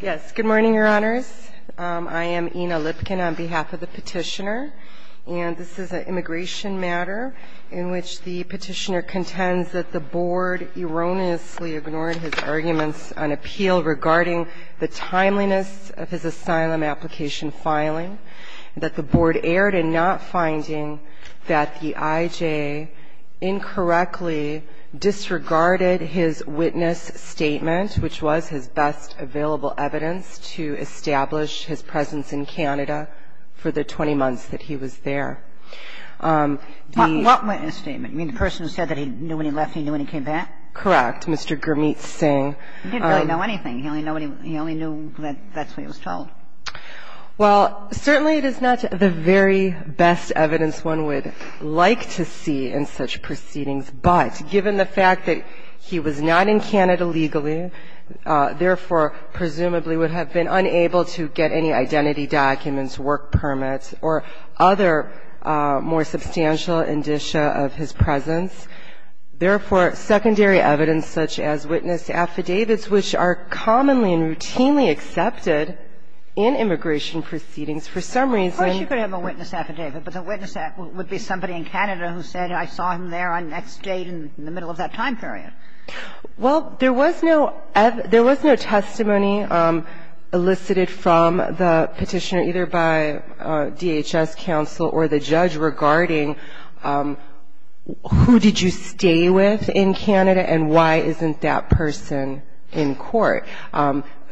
Yes, good morning, your honors. I am Ina Lipkin on behalf of the petitioner, and this is an immigration matter in which the petitioner contends that the board erroneously ignored his arguments on appeal regarding the timeliness of his asylum application filing, that the board erred in not finding that the IJ incorrectly disregarded his witness statement, which was his best ability. And so I would like to ask you, Mr. Holder, if you would be so kind as to give us the most reliable evidence to establish his presence in Canada for the 20 months that he was there. The ---- Kagan What witness statement? You mean the person who said that he knew when he left, he knew when he came back? Holder Correct, Mr. Gurmeet Singh. Kagan He didn't really know anything. He only knew that that's what he was told. Well, certainly it is not the very best evidence one would like to see in such proceedings, but given the fact that he was not in Canada legally, therefore presumably would have been unable to get any identity documents, work permits, or other more substantial indicia of his presence, therefore secondary evidence such as witness affidavits, which are commonly and routinely accepted in immigration proceedings, for some reason. Kagan Of course you could have a witness affidavit, but the witness affidavit would be somebody in Canada who said I saw him there on the next date in the middle of that time period. Well, there was no testimony elicited from the Petitioner either by DHS counsel or the judge regarding who did you stay with in Canada and why isn't that person in court.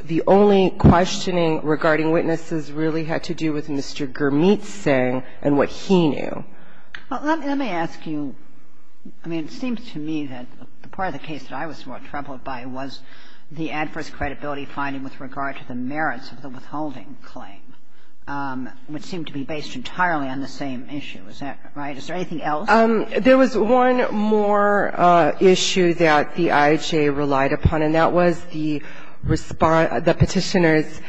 The only questioning regarding witnesses really had to do with Mr. Gurmeet Singh and what he knew. Kagan Let me ask you, I mean, it seems to me that part of the case that I was troubled by was the adverse credibility finding with regard to the merits of the withholding claim, which seemed to be based entirely on the same issue. Is that right? Is there anything else? There was one more issue that the IHA relied upon, and that was the Petitioner's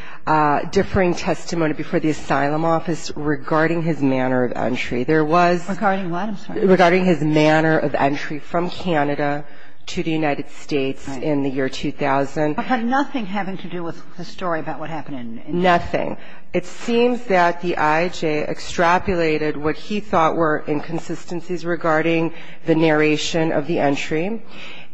differing testimony before the Asylum Office regarding his manner of entry. There was regarding his manner of entry from Canada to the United States in the year 2000. But nothing having to do with the story about what happened in India? Nothing. It seems that the IHA extrapolated what he thought were inconsistencies regarding the narration of the entry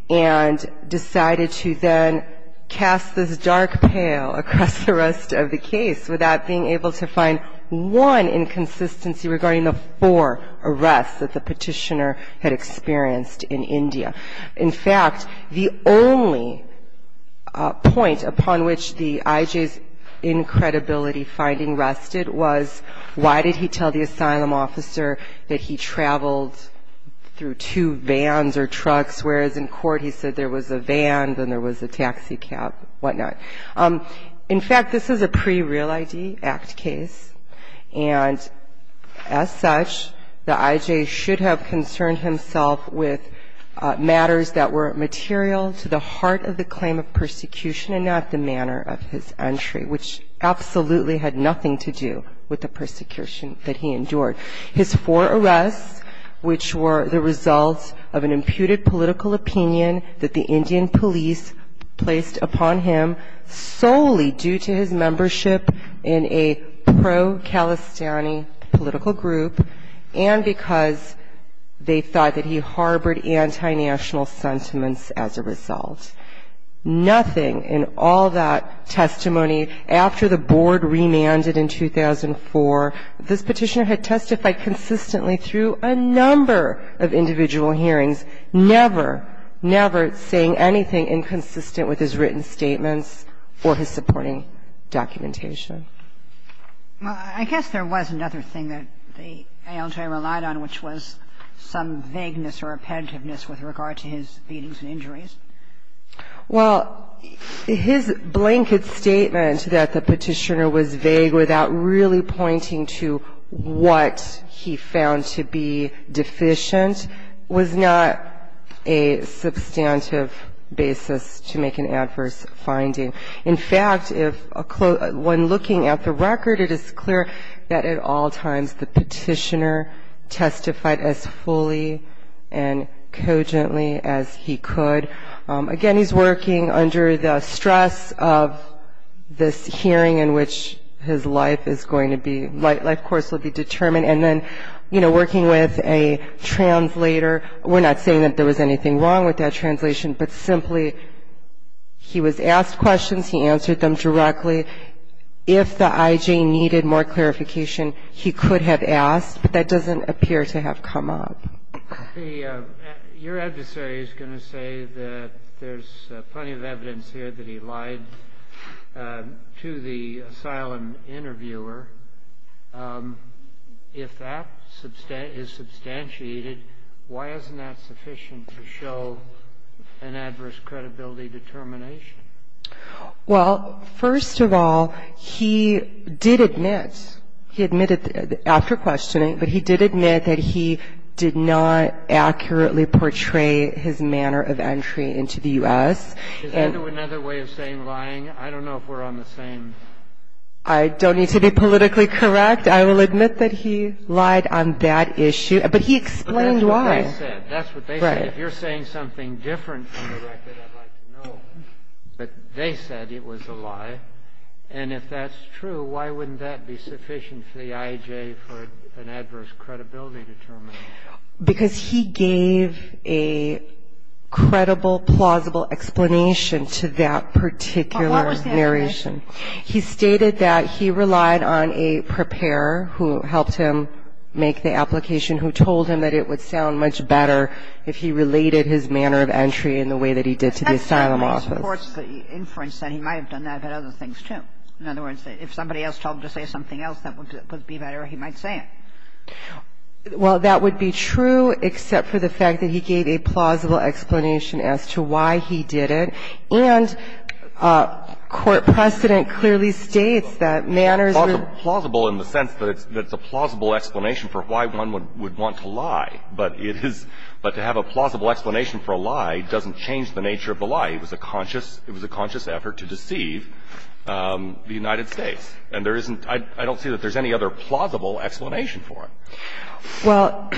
and decided to then cast this dark pail across the rest of the case without being able to find one inconsistency regarding the four arrests that the Petitioner had experienced in India. In fact, the only point upon which the IHA's incredibility finding rested was, why did he tell the Asylum Officer that he traveled through two vans or trucks, whereas in court he said there was a van, then there was a taxi cab, whatnot? In fact, this is a pre-Real ID Act case, and as such, the IJ should have concerned himself with matters that were material to the heart of the claim of persecution and not the manner of his entry, which absolutely had nothing to do with the persecution that he endured. His four arrests, which were the result of an imputed political opinion that the Indian police placed upon him, solely due to his membership in a pro-Kalistani political group and because they thought that he harbored anti-national sentiments as a result. Nothing in all that testimony after the board remanded in 2004, this Petitioner had testified consistently through a number of individual hearings, never, never saying anything inconsistent with his written statements or his supporting documentation. Well, I guess there was another thing that the ALJ relied on, which was some vagueness or repetitiveness with regard to his beatings and injuries. Well, his blanket statement that the Petitioner was vague without really pointing to what he found to be deficient was not a substantive basis to make an adverse finding. In fact, if a close – when looking at the record, it is clear that at all times the Petitioner testified as fully and cogently as he could. Again, he's working under the stress of this hearing in which his life is going to be – life course will be determined, and then, you know, working with a translator. We're not saying that there was anything wrong with that translation, but simply he was asked questions, he answered them directly. If the IJ needed more clarification, he could have asked, but that doesn't appear to have come up. Your adversary is going to say that there's plenty of evidence here that he lied to the asylum interviewer. If that is substantiated, why isn't that sufficient to show an adverse credibility determination? Well, first of all, he did admit – he admitted after questioning, but he did admit that he did not accurately portray his manner of entry into the U.S. Is that another way of saying lying? I don't know if we're on the same – I don't need to be politically correct. I will admit that he lied on that issue, but he explained why. If you're saying something different from the record, I'd like to know, but they said it was a lie, and if that's true, why wouldn't that be sufficient for the IJ for an adverse credibility determination? Because he gave a credible, plausible explanation to that particular narration. He stated that he relied on a preparer who helped him make the application, who told him that it would sound much better if he related his manner of entry in the way that he did to the asylum office. That supports the inference that he might have done that, but other things, too. In other words, if somebody else told him to say something else that would be better, he might say it. Well, that would be true, except for the fact that he gave a plausible explanation as to why he did it, and court precedent clearly states that manners were – So it's plausible in the sense that it's a plausible explanation for why one would want to lie. But it is – but to have a plausible explanation for a lie doesn't change the nature of the lie. It was a conscious – it was a conscious effort to deceive the United States. And there isn't – I don't see that there's any other plausible explanation for it. Well,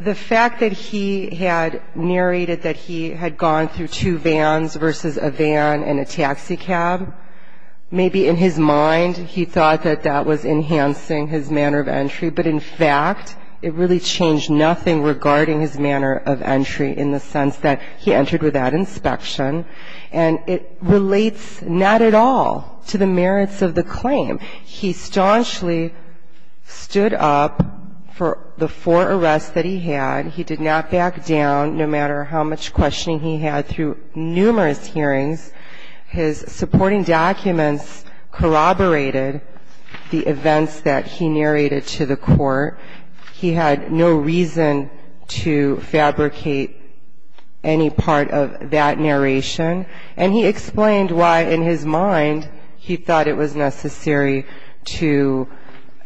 the fact that he had narrated that he had gone through two vans versus a van and a taxi cab, maybe in his mind he thought that that was enhancing his manner of entry, but in fact it really changed nothing regarding his manner of entry in the sense that he entered without inspection. And it relates not at all to the merits of the claim. He staunchly stood up for the four arrests that he had. He did not back down, no matter how much questioning he had through numerous hearings. His supporting documents corroborated the events that he narrated to the court. He had no reason to fabricate any part of that narration. And he explained why in his mind he thought it was necessary to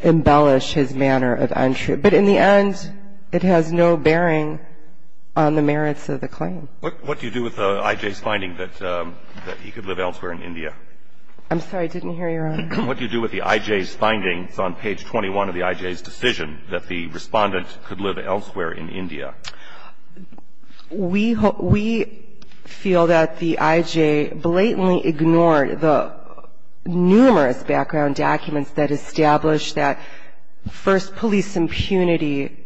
embellish his manner of entry. But in the end, it has no bearing on the merits of the claim. What do you do with the I.J.'s finding that he could live elsewhere in India? I'm sorry. I didn't hear your honor. What do you do with the I.J.'s findings on page 21 of the I.J.'s decision that the Respondent could live elsewhere in India? We feel that the I.J. blatantly ignored the numerous background documents that established that, first, police impunity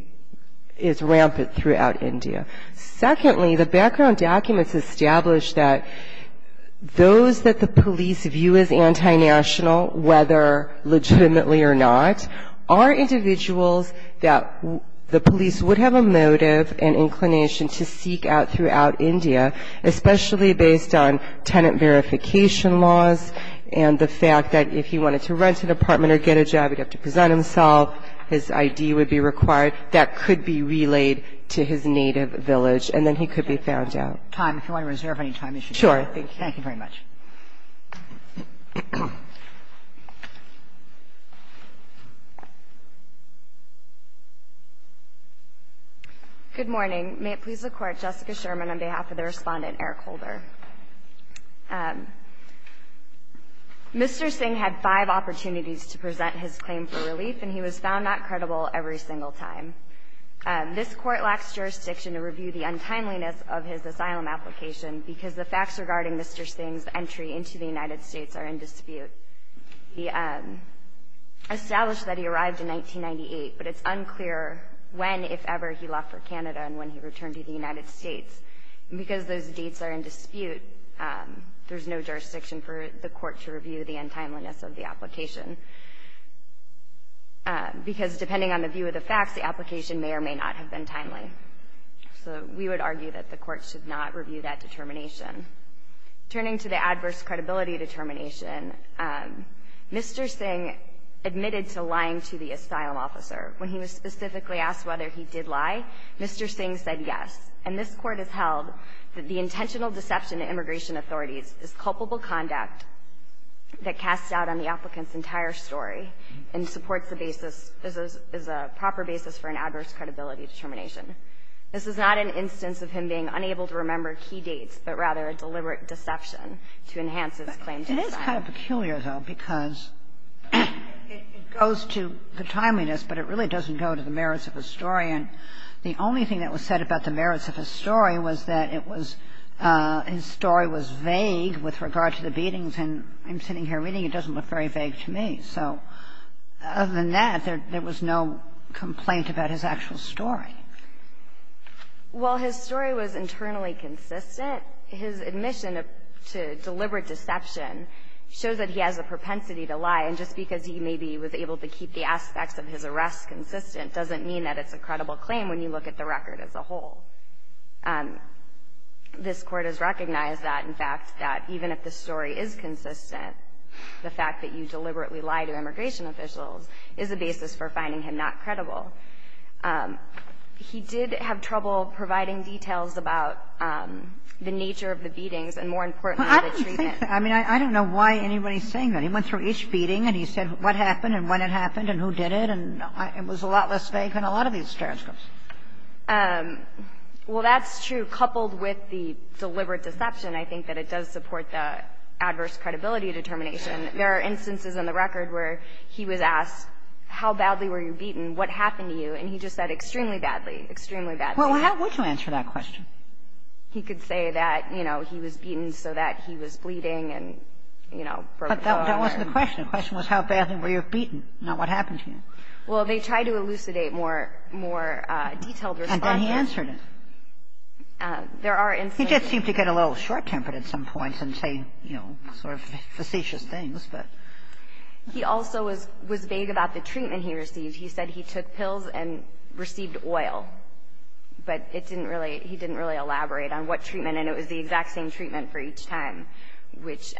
is rampant throughout India. Secondly, the background documents established that those that the police view as anti-national, whether legitimately or not, are individuals that the police would have a motive and inclination to seek out throughout India, especially based on tenant verification laws and the fact that if he wanted to rent an apartment or get a job, he'd have to present himself, his I.D. would be required. That could be relayed to his native village, and then he could be found out. Time. If you want to reserve any time, you should do that. Sure. Thank you very much. Good morning. May it please the Court. Jessica Sherman on behalf of the Respondent, Eric Holder. Mr. Singh had five opportunities to present his claim for relief, and he was found not credible every single time. This Court lacks jurisdiction to review the untimeliness of his asylum application because the facts regarding Mr. Singh's entry into the United States are in dispute. He established that he arrived in 1998, but it's unclear when, if ever, he left for Canada and when he returned to the United States. And because those dates are in dispute, there's no jurisdiction for the Court to review the untimeliness of the application, because depending on the view of the facts, the application may or may not have been timely. So we would argue that the Court should not review that determination. Turning to the adverse credibility determination, Mr. Singh admitted to lying to the asylum officer. When he was specifically asked whether he did lie, Mr. Singh said yes. And this Court has held that the intentional deception in immigration authorities is culpable conduct that casts doubt on the applicant's entire story and supports the basis as a proper basis for an adverse credibility determination. This is not an instance of him being unable to remember key dates, but rather a deliberate deception to enhance his claims. Kagan. It is kind of peculiar, though, because it goes to the timeliness, but it really doesn't go to the merits of the story. And the only thing that was said about the merits of his story was that it was his story was vague with regard to the beatings, and I'm sitting here reading, it doesn't look very vague to me. So other than that, there was no complaint about his actual story. Well, his story was internally consistent. His admission to deliberate deception shows that he has a propensity to lie. And just because he maybe was able to keep the aspects of his arrest consistent doesn't mean that it's a credible claim when you look at the record as a whole. This Court has recognized that, in fact, that even if the story is consistent, the fact that you deliberately lie to immigration officials is a basis for finding him not credible. He did have trouble providing details about the nature of the beatings and, more importantly, the treatment. I mean, I don't know why anybody's saying that. He went through each beating and he said what happened and when it happened and who So there's no doubt that it's a credible claim. It's not less vague than a lot of these transcripts. Well, that's true. Coupled with the deliberate deception, I think that it does support the adverse credibility determination. There are instances in the record where he was asked how badly were you beaten, what happened to you, and he just said extremely badly, extremely badly. Well, how would you answer that question? He could say that, you know, he was beaten so that he was bleeding and, you know, broke his arm. But that wasn't the question. The question was how badly were you beaten, not what happened to you. Well, they tried to elucidate more detailed responses. And then he answered it. There are instances. He did seem to get a little short-tempered at some points and say, you know, sort of facetious things, but. He also was vague about the treatment he received. He said he took pills and received oil. But it didn't really he didn't really elaborate on what treatment and it was the exact same treatment for each time, which,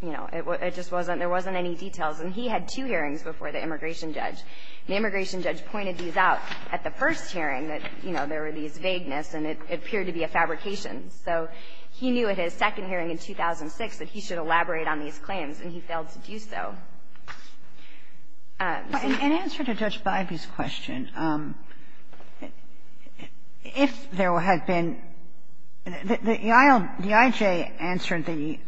you know, it just wasn't there wasn't any details. And he had two hearings before the immigration judge. And the immigration judge pointed these out at the first hearing that, you know, there were these vaguenesses and it appeared to be a fabrication. So he knew at his second hearing in 2006 that he should elaborate on these claims and he failed to do so. In answer to Judge Bybee's question, if there had been the EIJ answered the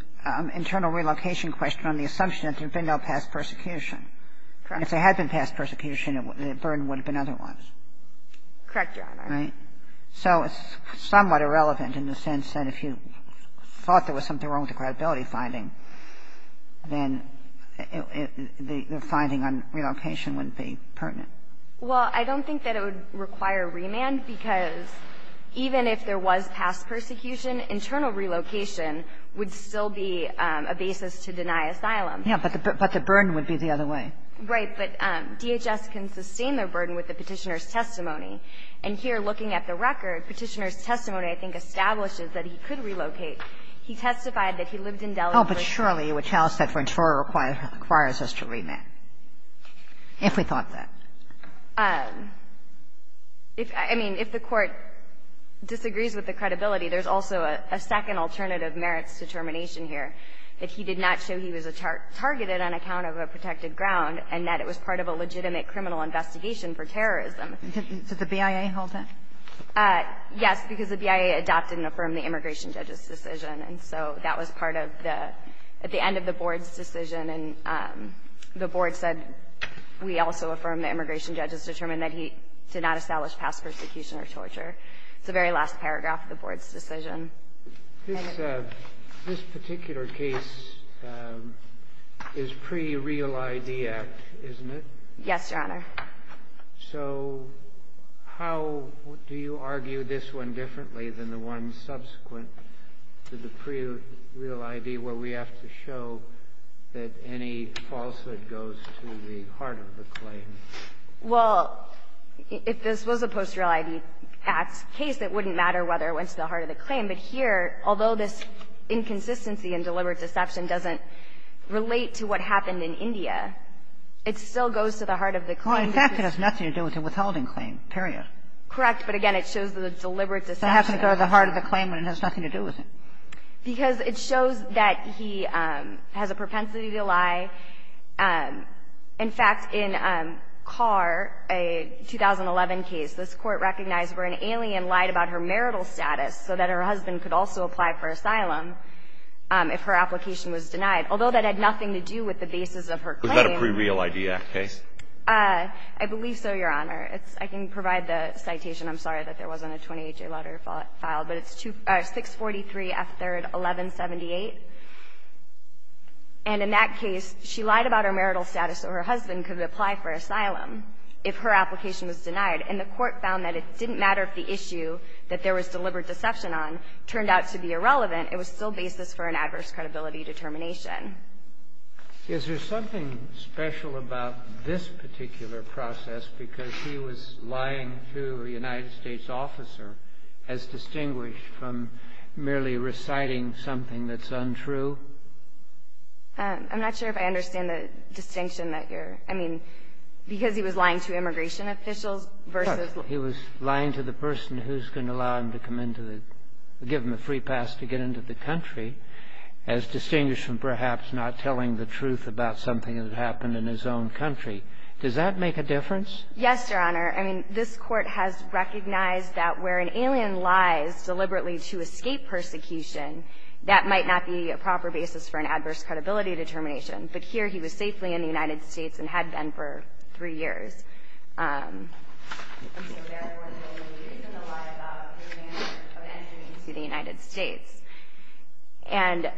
internal relocation question on the assumption that there had been no past persecution. Correct. If there had been past persecution, the burden would have been otherwise. Correct, Your Honor. Right. So it's somewhat irrelevant in the sense that if you thought there was something wrong with the credibility finding, then the finding on relocation would be pertinent. Well, I don't think that it would require remand because even if there was past persecution, internal relocation would still be a basis to deny asylum. Yeah, but the burden would be the other way. Right. But DHS can sustain their burden with the petitioner's testimony. And here looking at the record, petitioner's testimony I think establishes that he could relocate. He testified that he lived in Delhi. Oh, but surely you would tell us that Ventura requires us to remand, if we thought that. I mean, if the Court disagrees with the credibility, there's also a second alternative merits to termination here, that he did not show he was targeted on account of a protected ground and that it was part of a legitimate criminal investigation for terrorism. Did the BIA hold that? Yes, because the BIA adopted and affirmed the immigration judge's decision. And so that was part of the end of the Board's decision. And the Board said, we also affirmed the immigration judge's determination that he did not establish past persecution or torture. It's the very last paragraph of the Board's decision. This particular case is pre-Real ID Act, isn't it? Yes, Your Honor. So how do you argue this one differently than the one subsequent to the pre-Real ID, where we have to show that any falsehood goes to the heart of the claim? Well, if this was a post-Real ID Act case, it wouldn't matter whether it went to the heart of the claim. But here, although this inconsistency and deliberate deception doesn't relate to what In fact, it has nothing to do with the withholding claim, period. Correct. But again, it shows the deliberate deception. So it has to go to the heart of the claim, but it has nothing to do with it. Because it shows that he has a propensity to lie. In fact, in Carr, a 2011 case, this Court recognized where an alien lied about her marital status so that her husband could also apply for asylum if her application was denied, although that had nothing to do with the basis of her claim. Was that a pre-Real ID Act case? I believe so, Your Honor. I can provide the citation. I'm sorry that there wasn't a 28-year letter filed. But it's 643 F. 3rd 1178. And in that case, she lied about her marital status so her husband could apply for asylum if her application was denied, and the Court found that it didn't matter if the issue that there was deliberate deception on turned out to be irrelevant. It was still basis for an adverse credibility determination. Is there something special about this particular process because he was lying to a United States officer as distinguished from merely reciting something that's untrue? I'm not sure if I understand the distinction that you're – I mean, because he was lying to immigration officials versus – He was lying to the person who's going to allow him to come into the – give him a truth about something that happened in his own country. Does that make a difference? Yes, Your Honor. I mean, this Court has recognized that where an alien lies deliberately to escape persecution, that might not be a proper basis for an adverse credibility determination. But here he was safely in the United States and had been for three years. And so therefore, the only reason to lie about his manner of entering into the United States. And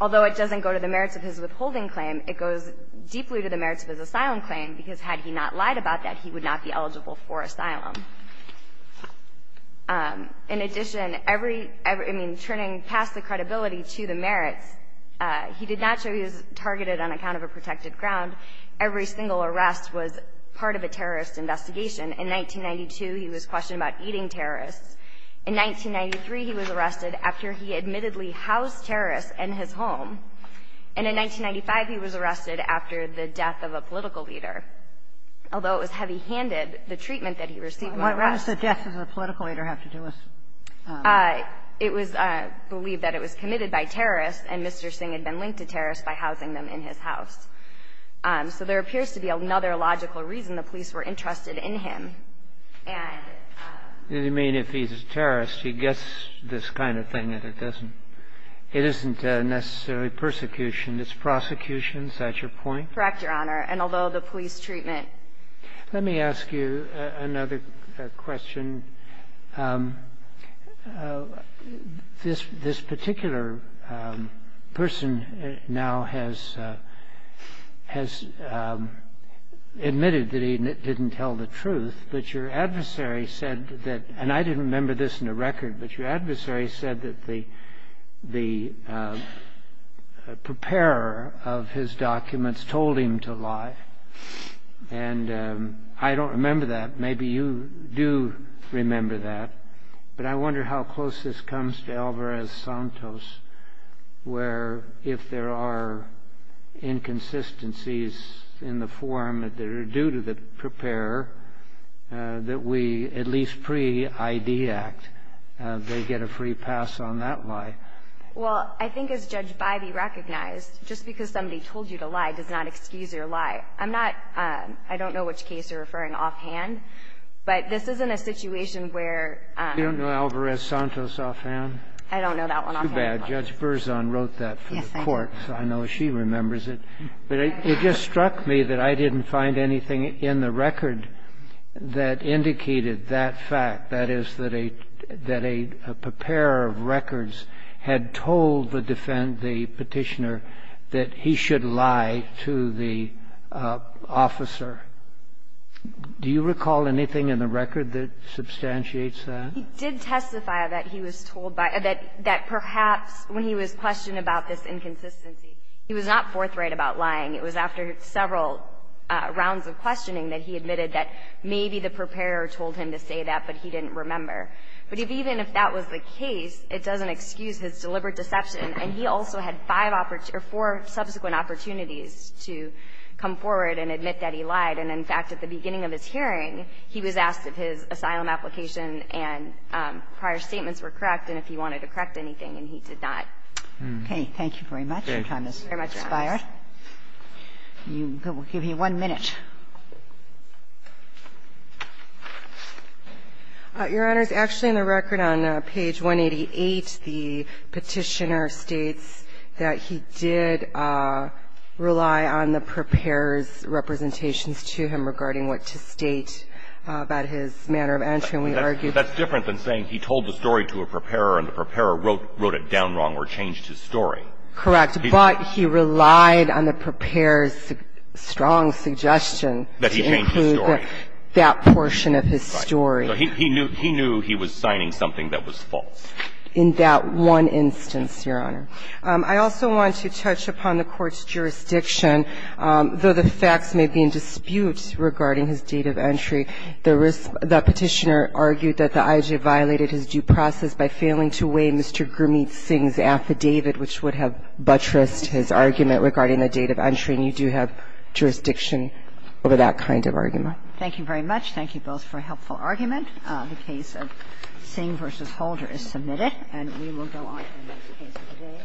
although it doesn't go to the merits of his withholding claim, it goes deeply to the merits of his asylum claim because had he not lied about that, he would not be eligible for asylum. In addition, every – I mean, turning past the credibility to the merits, he did not show he was targeted on account of a protected ground. Every single arrest was part of a terrorist investigation. In 1992, he was questioned about eating terrorists. In 1993, he was arrested after he admittedly housed terrorists in his home. And in 1995, he was arrested after the death of a political leader, although it was heavy-handed, the treatment that he received in the arrest. What does the death of a political leader have to do with? It was believed that it was committed by terrorists, and Mr. Singh had been linked to terrorists by housing them in his house. So there appears to be another logical reason the police were interested in him. I'm sorry? I just want to say that, as I said, Mr. Singh had been linked to terrorists. I mean, if he's a terrorist, he gets this kind of thing, and it doesn't – it isn't necessarily persecution. It's prosecution. Is that your point? Correct, Your Honor, and although the police treatment – Let me ask you another question. This particular person now has admitted that he didn't tell the truth, but your adversary said that – and I didn't remember this in the record – but your adversary said that the preparer of his documents told him to lie, and I don't remember that. Maybe you do remember that, but I wonder how close this comes to Alvarez-Santos, where if there are inconsistencies in the form that are due to the preparer, that we at least pre-ID Act, they get a free pass on that lie. Well, I think as Judge Bybee recognized, just because somebody told you to lie does not excuse your lie. I'm not – I don't know which case you're referring offhand, but this isn't a situation where – You don't know Alvarez-Santos offhand? I don't know that one offhand. Too bad. Judge Berzon wrote that for the Court, so I know she remembers it. But it just struck me that I didn't find anything in the record that indicated that fact, that is, that a preparer of records had told the petitioner that he should lie to the officer. Do you recall anything in the record that substantiates that? He did testify that he was told by – that perhaps when he was questioned about this inconsistency, he was not forthright about lying. It was after several rounds of questioning that he admitted that maybe the preparer told him to say that, but he didn't remember. But even if that was the case, it doesn't excuse his deliberate deception. And he also had five – or four subsequent opportunities to come forward and admit that he lied. And, in fact, at the beginning of his hearing, he was asked if his asylum application and prior statements were correct and if he wanted to correct anything, and he did not. Okay. Thank you very much. Your time has expired. Thank you very much, Your Honor. We'll give you one minute. Your Honor, it's actually in the record on page 188, the petitioner states that he did rely on the preparer's representations to him regarding what to state about his manner of entry. And we argue that's different than saying he told the story to a preparer and the preparer wrote it down wrong or changed his story. Correct. But he relied on the preparer's strong suggestion to include that portion of his story. Right. So he knew he was signing something that was false. In that one instance, Your Honor. I also want to touch upon the Court's jurisdiction. Though the facts may be in dispute regarding his date of entry, the petitioner argued that the IJA violated his due process by failing to weigh Mr. Gurmeet Singh's interest, his argument regarding the date of entry. And you do have jurisdiction over that kind of argument. Thank you very much. Thank you both for a helpful argument. The case of Singh v. Holder is submitted. And we will go on to the next case of the day.